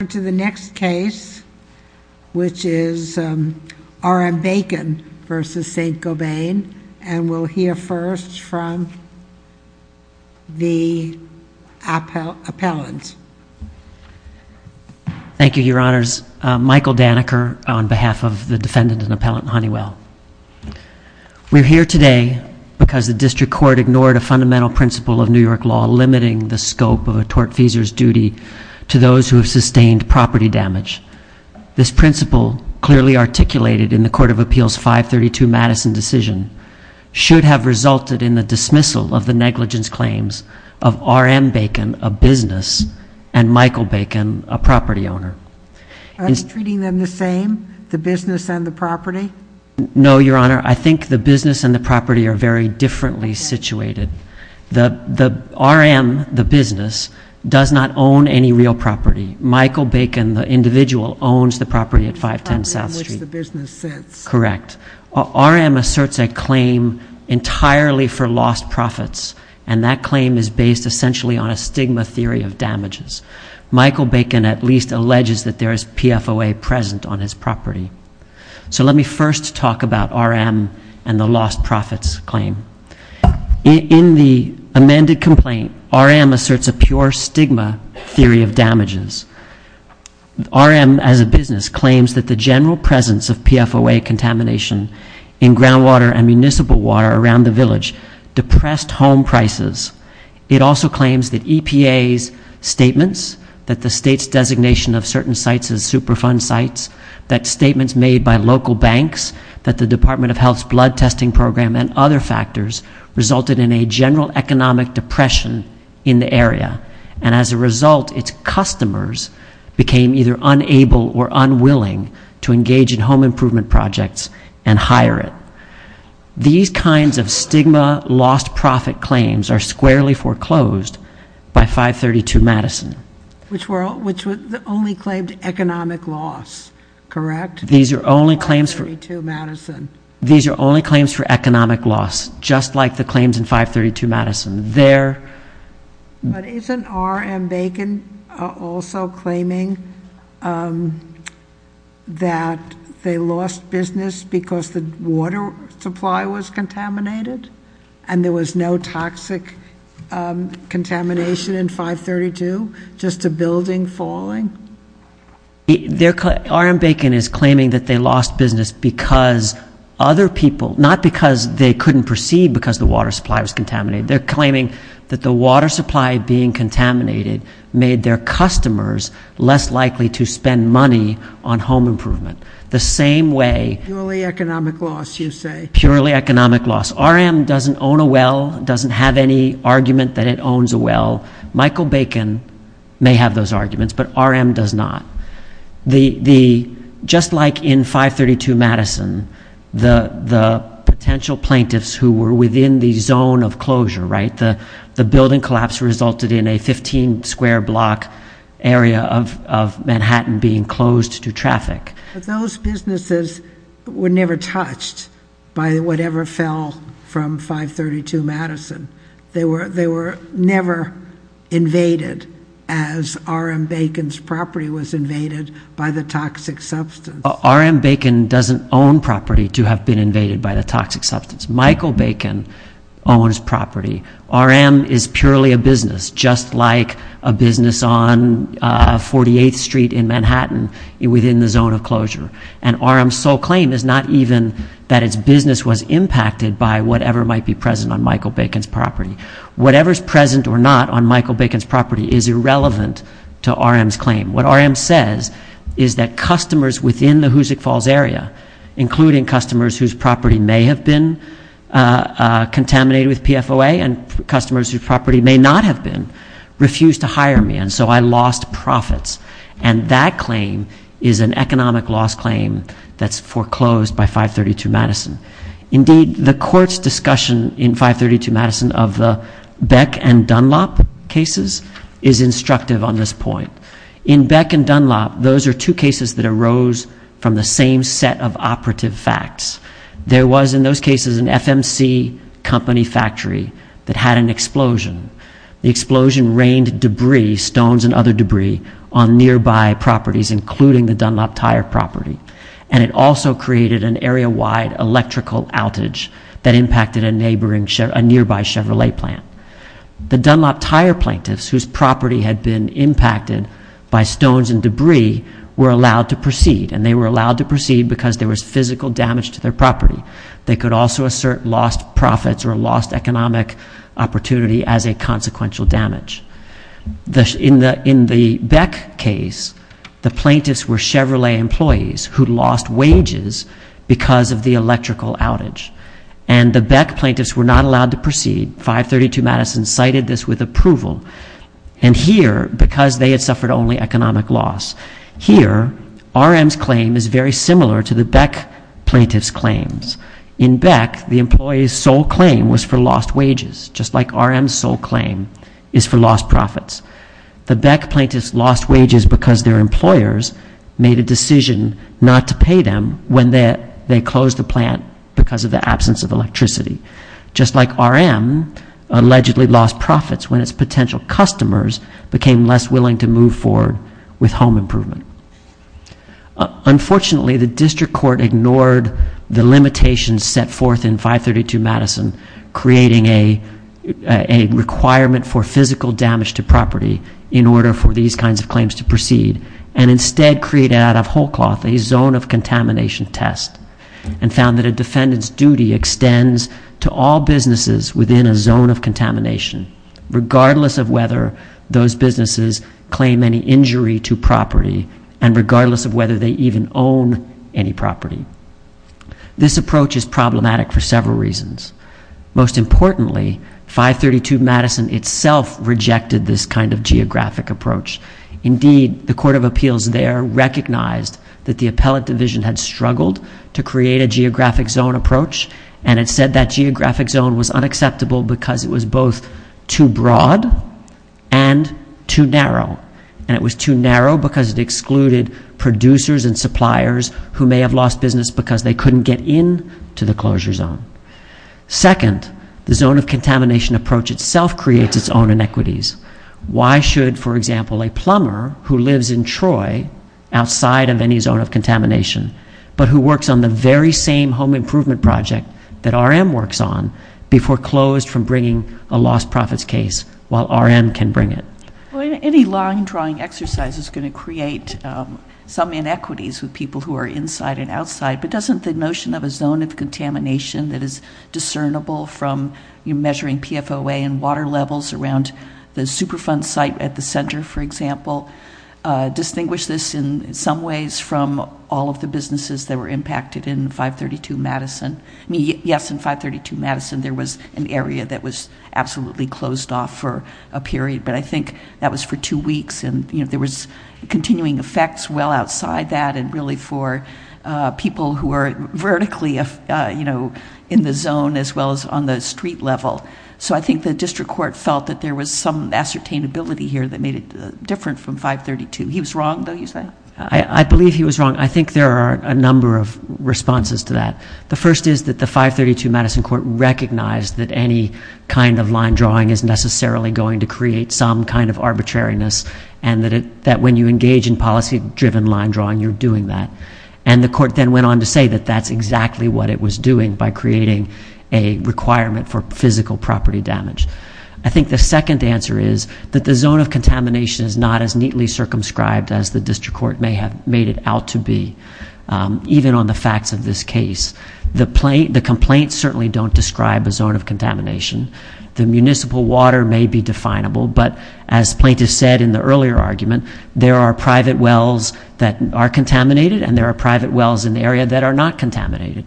We'll turn to the next case, which is R.M. Bacon v. Saint-Gobain, and we'll hear first from the appellant. Thank you, Your Honors. Michael Daneker on behalf of the defendant and appellant, Honeywell. We're here today because the district court ignored a fundamental principle of New York law limiting the scope of a tortfeasor's duty to those who have sustained property damage. This principle, clearly articulated in the Court of Appeals 532 Madison decision, should have resulted in the dismissal of the negligence claims of R.M. Bacon, a business, and Michael Bacon, a property owner. Are you treating them the same, the business and the property? No, Your Honor. I think the business and the property are very differently situated. R.M., the business, does not own any real property. Michael Bacon, the individual, owns the property at 510 South Street. It's the property on which the business sits. Correct. R.M. asserts a claim entirely for lost profits, and that claim is based essentially on a stigma theory of damages. Michael Bacon at least alleges that there is PFOA present on his property. So let me first talk about R.M. and the lost profits claim. In the amended complaint, R.M. asserts a pure stigma theory of damages. R.M., as a business, claims that the general presence of PFOA contamination in groundwater and municipal water around the village depressed home prices. It also claims that EPA's statements, that the state's designation of certain sites as banks, that the Department of Health's blood testing program and other factors resulted in a general economic depression in the area, and as a result, its customers became either unable or unwilling to engage in home improvement projects and hire it. These kinds of stigma lost profit claims are squarely foreclosed by 532 Madison. Which only claimed economic loss, correct? These are only claims for economic loss, just like the claims in 532 Madison. But isn't R.M. Bacon also claiming that they lost business because the water supply was just a building falling? R.M. Bacon is claiming that they lost business because other people, not because they couldn't proceed because the water supply was contaminated. They're claiming that the water supply being contaminated made their customers less likely to spend money on home improvement. The same way purely economic loss, you say? Purely economic loss. R.M. doesn't own a well, doesn't have any argument that it owns a well. Michael Bacon may have those arguments, but R.M. does not. Just like in 532 Madison, the potential plaintiffs who were within the zone of closure, right? The building collapse resulted in a 15 square block area of Manhattan being closed to traffic. Those businesses were never touched by whatever fell from 532 Madison. They were never invaded as R.M. Bacon's property was invaded by the toxic substance. R.M. Bacon doesn't own property to have been invaded by the toxic substance. Michael Bacon owns property. R.M. is purely a business, just like a business on 48th Street in Manhattan within the zone of closure. And R.M.'s sole claim is not even that its business was impacted by whatever might be present on Michael Bacon's property. Whatever's present or not on Michael Bacon's property is irrelevant to R.M.'s claim. What R.M. says is that customers within the Hoosick Falls area, including customers whose property may have been contaminated with PFOA and customers whose property may not have been, refused to hire me, and so I lost profits. And that claim is an economic loss claim that's foreclosed by 532 Madison. Indeed, the court's discussion in 532 Madison of the Beck and Dunlop cases is instructive on this point. In Beck and Dunlop, those are two cases that arose from the same set of operative facts. There was in those cases an FMC company factory that had an explosion. The explosion rained debris, stones and other debris, on nearby properties, including the Dunlop Tire property. And it also created an area-wide electrical outage that impacted a nearby Chevrolet plant. The Dunlop Tire plaintiffs, whose property had been impacted by stones and debris, were allowed to proceed, and they were allowed to proceed because there was physical damage to their property. They could also assert lost profits or lost economic opportunity as a consequential damage. In the Beck case, the plaintiffs were Chevrolet employees who lost wages because of the electrical outage. And the Beck plaintiffs were not allowed to proceed. 532 Madison cited this with approval. And here, because they had suffered only economic loss, here, RM's claim is very similar to the Beck plaintiffs' claims. In Beck, the employee's sole claim was for lost wages, just like RM's sole claim is for lost profits. The Beck plaintiffs lost wages because their employers made a decision not to pay them when they closed the plant because of the absence of electricity. Just like RM allegedly lost profits when its potential customers became less willing to move forward with home improvement. Unfortunately, the district court ignored the limitations set forth in 532 Madison, creating a requirement for physical damage to property in order for these kinds of claims to proceed, and instead created out of whole cloth a zone of contamination test, and found that a defendant's duty extends to all businesses within a zone of contamination, regardless of whether those businesses claim any injury to property, and regardless of whether they even own any property. This approach is problematic for several reasons. Most importantly, 532 Madison itself rejected this kind of geographic approach. Indeed, the court of appeals there recognized that the appellate division had struggled to create a geographic zone approach, and it said that geographic zone was unacceptable because it was both too broad and too narrow, and it was too narrow because it excluded producers and suppliers who may have lost business because they couldn't get into the closure zone. Second, the zone of contamination approach itself creates its own inequities. Why should, for example, a plumber who lives in Troy, outside of any zone of contamination, but who works on the very same home improvement project that RM works on, be foreclosed from bringing a lost profits case while RM can bring it? Any line drawing exercise is going to create some inequities with people who are inside and outside, but doesn't the notion of a zone of contamination that is discernible from measuring PFOA and water levels around the Superfund site at the center, for example, distinguish this in some ways from all of the businesses that were impacted in 532 Madison? I mean, yes, in 532 Madison there was an area that was absolutely closed off for a period, but I think that was for two weeks, and there was continuing effects well outside that, and really for people who are vertically in the zone as well as on the street level. So I think the district court felt that there was some ascertainability here that made it different from 532. He was wrong, though, you say? I believe he was wrong. I think there are a number of responses to that. The first is that the 532 Madison court recognized that any kind of line drawing is necessarily going to create some kind of arbitrariness, and that when you engage in policy-driven line drawing, you're doing that. And the court then went on to say that that's exactly what it was doing by creating a requirement for physical property damage. I think the second answer is that the zone of contamination is not as neatly circumscribed as the district court may have made it out to be, even on the facts of this case. The complaints certainly don't describe a zone of contamination. The municipal water may be definable, but as plaintiffs said in the earlier argument, there are private wells that are contaminated, and there are private wells in the area that are not contaminated.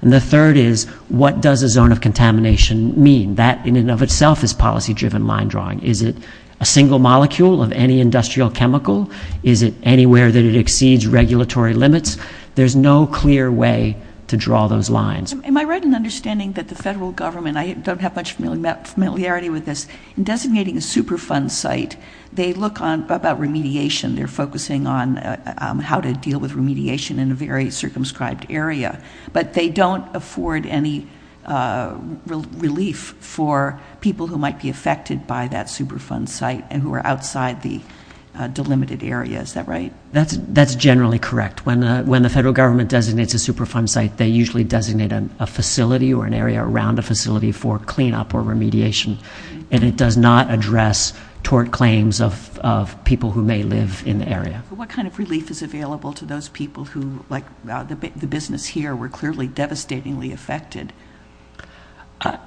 And the third is, what does a zone of contamination mean? That in and of itself is policy-driven line drawing. Is it a single molecule of any industrial chemical? Is it anywhere that it exceeds regulatory limits? There's no clear way to draw those lines. Am I right in understanding that the federal government, I don't have much familiarity with this, in designating a Superfund site, they look about remediation. They're focusing on how to deal with remediation in a very circumscribed area. But they don't afford any relief for people who might be affected by that Superfund site and who are outside the delimited area. Is that right? That's generally correct. When the federal government designates a Superfund site, they usually designate a facility or an area around a facility for cleanup or remediation. And it does not address tort claims of people who may live in the area. What kind of relief is available to those people who, like the business here, were clearly devastatingly affected?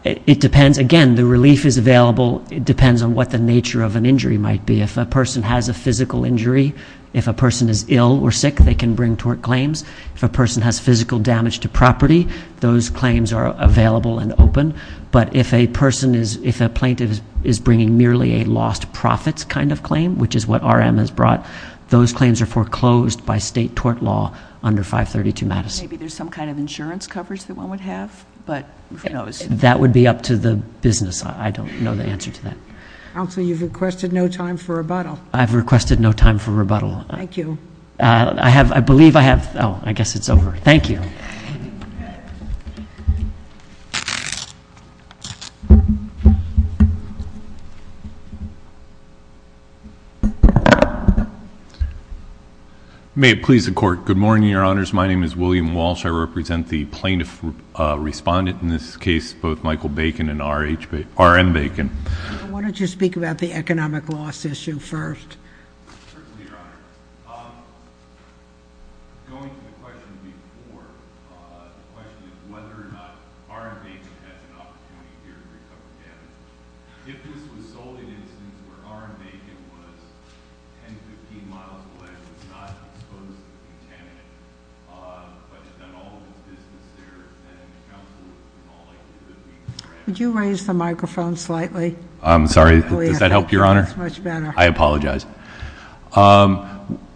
It depends. Again, the relief is available. It depends on what the nature of an injury might be. If a person has a physical injury, if a person is ill or sick, they can bring tort claims. If a person has physical damage to property, those claims are available and open. But if a plaintiff is bringing merely a lost profits kind of claim, which is what RM has brought, those claims are foreclosed by state tort law under 532 Madison. Maybe there's some kind of insurance coverage that one would have, but who knows? That would be up to the business. I don't know the answer to that. Counsel, you've requested no time for rebuttal. I've requested no time for rebuttal. Thank you. I believe I have. Oh, I guess it's over. Thank you. May it please the Court. Good morning, Your Honors. My name is William Walsh. I represent the plaintiff respondent in this case, both Michael Bacon and RM Bacon. I wanted to speak about the economic loss issue first. Certainly, Your Honor. Going to the question before, the question is whether or not RM Bacon had an opportunity here to recover damage. If this was solely an instance where RM Bacon was 10, 15 miles away, not exposed to the contaminant, but had done all of his business there,... Could you raise the microphone slightly? I'm sorry. Does that help, Your Honor? That's much better. I apologize.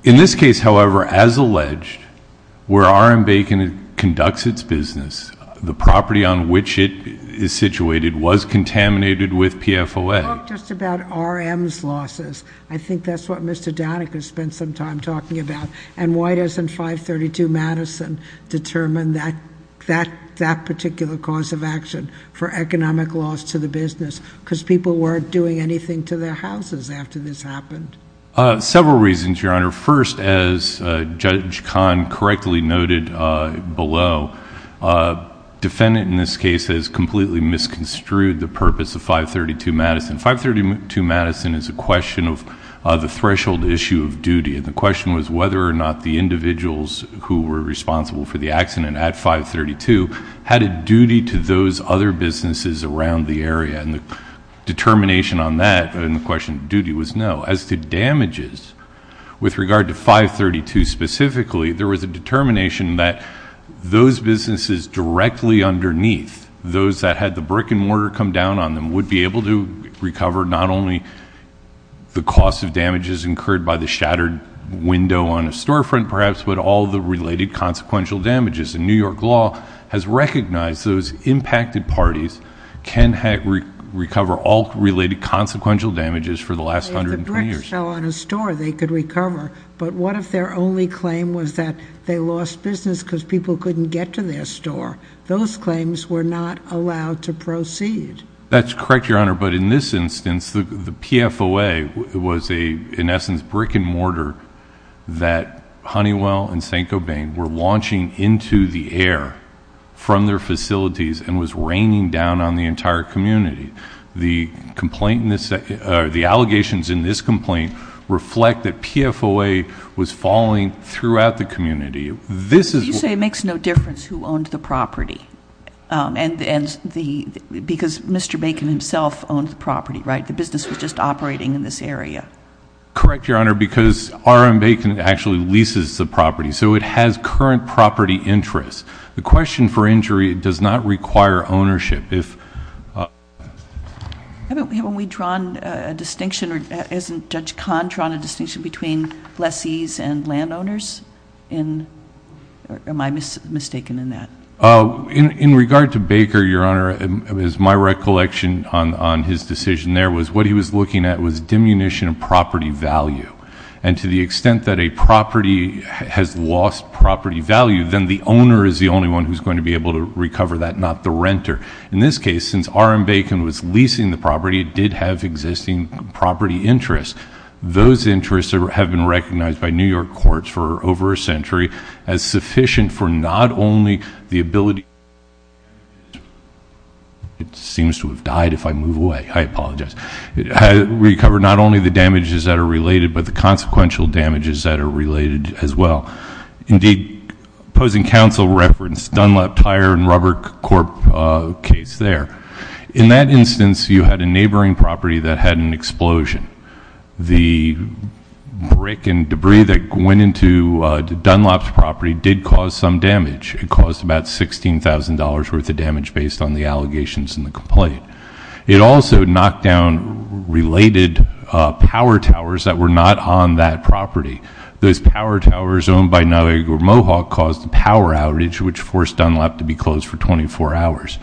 In this case, however, as alleged, where RM Bacon conducts its business, the property on which it is situated was contaminated with PFOA. Talk just about RM's losses. I think that's what Mr. Danik has spent some time talking about. Why doesn't 532 Madison determine that particular cause of action for economic loss to the business? Because people weren't doing anything to their houses after this happened. Several reasons, Your Honor. First, as Judge Kahn correctly noted below, defendant in this case has completely misconstrued the purpose of 532 Madison. 532 Madison is a question of the threshold issue of duty. And the question was whether or not the individuals who were responsible for the accident at 532 had a duty to those other businesses around the area. And the determination on that and the question of duty was no. As to damages, with regard to 532 specifically, there was a determination that those businesses directly underneath, those that had the brick and mortar come down on them, would be able to recover not only the cost of damages incurred by the shattered window on a storefront, perhaps, but all the related consequential damages. And New York law has recognized those impacted parties can recover all related consequential damages for the last 120 years. If the bricks fell on a store, they could recover. But what if their only claim was that they lost business because people couldn't get to their store? Those claims were not allowed to proceed. That's correct, Your Honor. But in this instance, the PFOA was, in essence, brick and mortar that Honeywell and St. Gobain were launching into the air from their facilities and was raining down on the entire community. The allegations in this complaint reflect that PFOA was falling throughout the community. You say it makes no difference who owned the property. Because Mr. Bacon himself owned the property, right? The business was just operating in this area. Correct, Your Honor, because R.M. Bacon actually leases the property, so it has current property interest. The question for injury does not require ownership. Haven't we drawn a distinction, or hasn't Judge Kahn drawn a distinction between lessees and landowners? Am I mistaken in that? In regard to Baker, Your Honor, as my recollection on his decision there, what he was looking at was diminution of property value. And to the extent that a property has lost property value, then the owner is the only one who's going to be able to recover that, not the renter. In this case, since R.M. Bacon was leasing the property, it did have existing property interest. Those interests have been recognized by New York courts for over a century as sufficient for not only the ability to recover the damages that are related, but the consequential damages that are related as well. Indeed, opposing counsel referenced Dunlop Tire and Rubber Corp. case there. In that instance, you had a neighboring property that had an explosion. The brick and debris that went into Dunlop's property did cause some damage. It caused about $16,000 worth of damage based on the allegations and the complaint. It also knocked down related power towers that were not on that property. Those power towers owned by Niagara Mohawk caused a power outage, which forced Dunlop to be closed for 24 hours.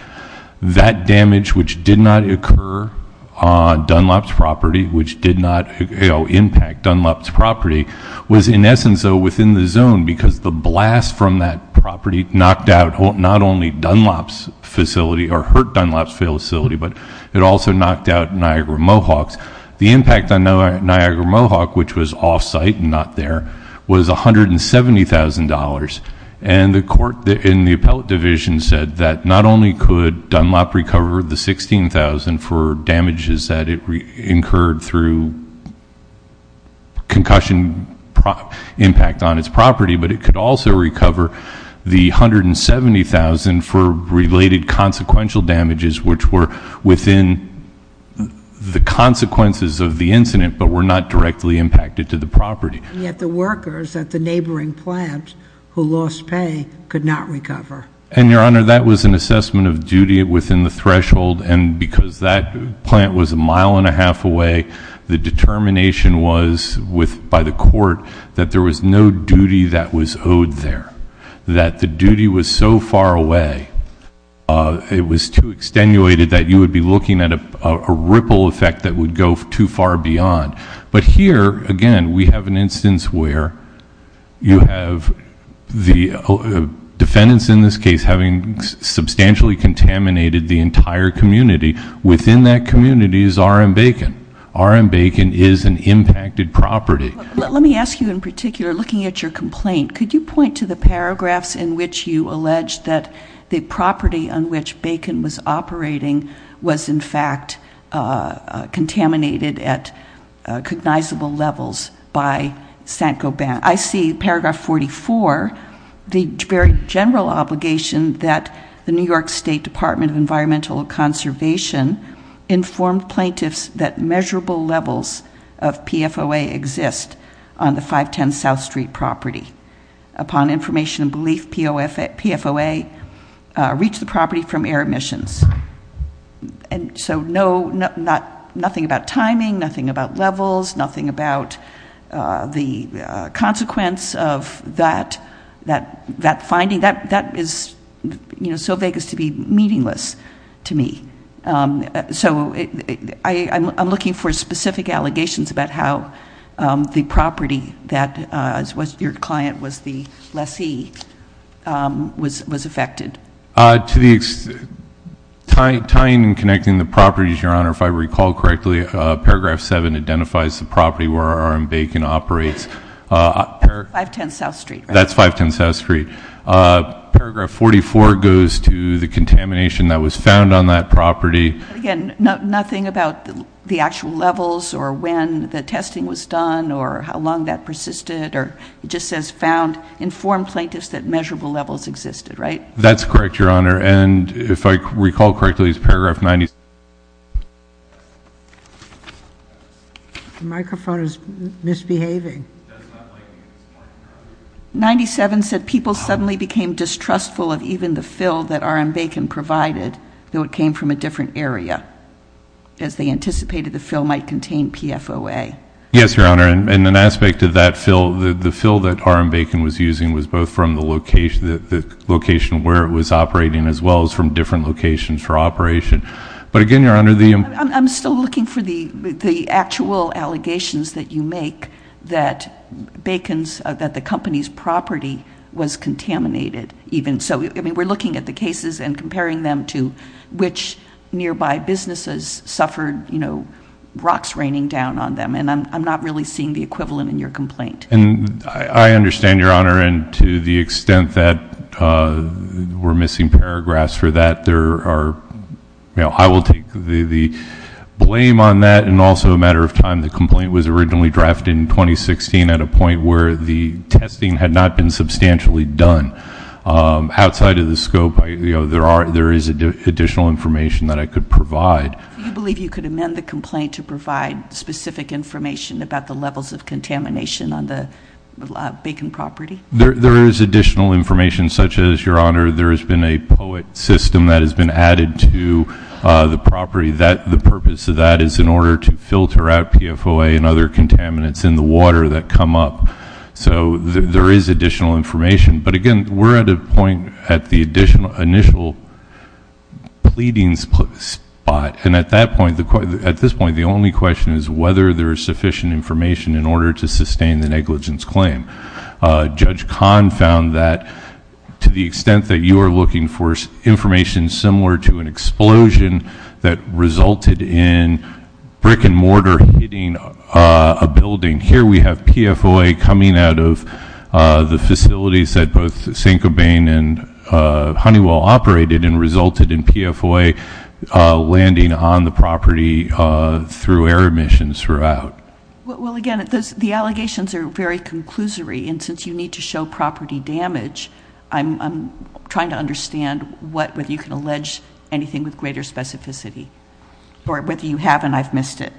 That damage, which did not occur on Dunlop's property, which did not impact Dunlop's property, was in essence within the zone because the blast from that property knocked out not only Dunlop's facility or hurt Dunlop's facility, but it also knocked out Niagara Mohawk's. The impact on Niagara Mohawk, which was off-site and not there, was $170,000. The court in the appellate division said that not only could Dunlop recover the $16,000 for damages that it incurred through concussion impact on its property, but it could also recover the $170,000 for related consequential damages, which were within the consequences of the incident but were not directly impacted to the property. Yet the workers at the neighboring plant who lost pay could not recover. And, Your Honor, that was an assessment of duty within the threshold, and because that plant was a mile and a half away, the determination was by the court that there was no duty that was owed there, that the duty was so far away. It was too extenuated that you would be looking at a ripple effect that would go too far beyond. But here, again, we have an instance where you have the defendants in this case having substantially contaminated the entire community. Within that community is R.M. Bacon. R.M. Bacon is an impacted property. Let me ask you in particular, looking at your complaint, could you point to the paragraphs in which you allege that the property on which Bacon was operating was, in fact, contaminated at cognizable levels by Sankoban? I see paragraph 44, the very general obligation that the New York State Department of Environmental Conservation informed plaintiffs that measurable levels of PFOA exist on the 510 South Street property. Upon information and belief, PFOA reached the property from air emissions. So nothing about timing, nothing about levels, nothing about the consequence of that finding. That is so vague as to be meaningless to me. So I'm looking for specific allegations about how the property that your client was the lessee was affected. Tying and connecting the properties, Your Honor, if I recall correctly, paragraph 7 identifies the property where R.M. Bacon operates. 510 South Street, right? That's 510 South Street. Paragraph 44 goes to the contamination that was found on that property. Again, nothing about the actual levels or when the testing was done or how long that persisted. It just says found, informed plaintiffs that measurable levels existed, right? That's correct, Your Honor. And if I recall correctly, it's paragraph 97. The microphone is misbehaving. 97 said people suddenly became distrustful of even the fill that R.M. Bacon provided, though it came from a different area, as they anticipated the fill might contain PFOA. Yes, Your Honor, and an aspect of that fill, the fill that R.M. Bacon was using was both from the location where it was operating as well as from different locations for operation. But again, Your Honor, the- I'm still looking for the actual allegations that you make that Bacon's, that the company's property was contaminated even. So, I mean, we're looking at the cases and comparing them to which nearby businesses suffered, you know, rocks raining down on them, and I'm not really seeing the equivalent in your complaint. I understand, Your Honor, and to the extent that we're missing paragraphs for that, there are, you know, I will take the blame on that, and also a matter of time the complaint was originally drafted in 2016 at a point where the testing had not been substantially done. Outside of the scope, you know, there is additional information that I could provide. Do you believe you could amend the complaint to provide specific information about the levels of contamination on the Bacon property? There is additional information, such as, Your Honor, there has been a POET system that has been added to the property. The purpose of that is in order to filter out PFOA and other contaminants in the water that come up. So there is additional information. But again, we're at a point at the initial pleading spot, and at that point, at this point, the only question is whether there is sufficient information in order to sustain the negligence claim. Judge Kahn found that to the extent that you are looking for information similar to an explosion that resulted in brick and mortar hitting a building, here we have PFOA coming out of the facilities that both St. Cobain and Honeywell operated and resulted in PFOA landing on the property through air emissions throughout. Well, again, the allegations are very conclusory. And since you need to show property damage, I'm trying to understand whether you can allege anything with greater specificity or whether you haven't. I've missed it.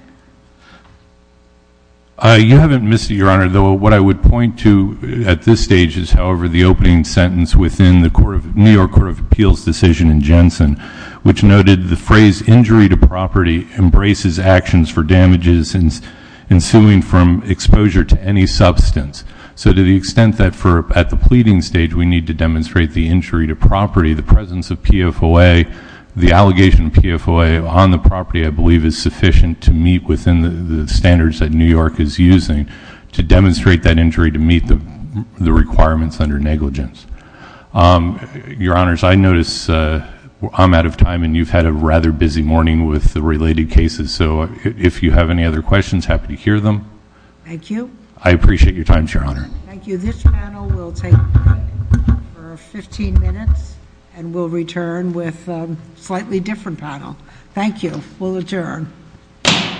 You haven't missed it, Your Honor. What I would point to at this stage is, however, the opening sentence within the New York Court of Appeals decision in Jensen, which noted the phrase injury to property embraces actions for damages ensuing from exposure to any substance. So to the extent that at the pleading stage we need to demonstrate the injury to property, the presence of PFOA, the allegation of PFOA on the property, I believe, is sufficient to meet within the standards that New York is using to demonstrate that injury to meet the requirements under negligence. Your Honors, I notice I'm out of time, and you've had a rather busy morning with the related cases. So if you have any other questions, happy to hear them. Thank you. I appreciate your time, Your Honor. Thank you. This panel will take for 15 minutes, and we'll return with a slightly different panel. Thank you. We'll adjourn. Court is adjourned.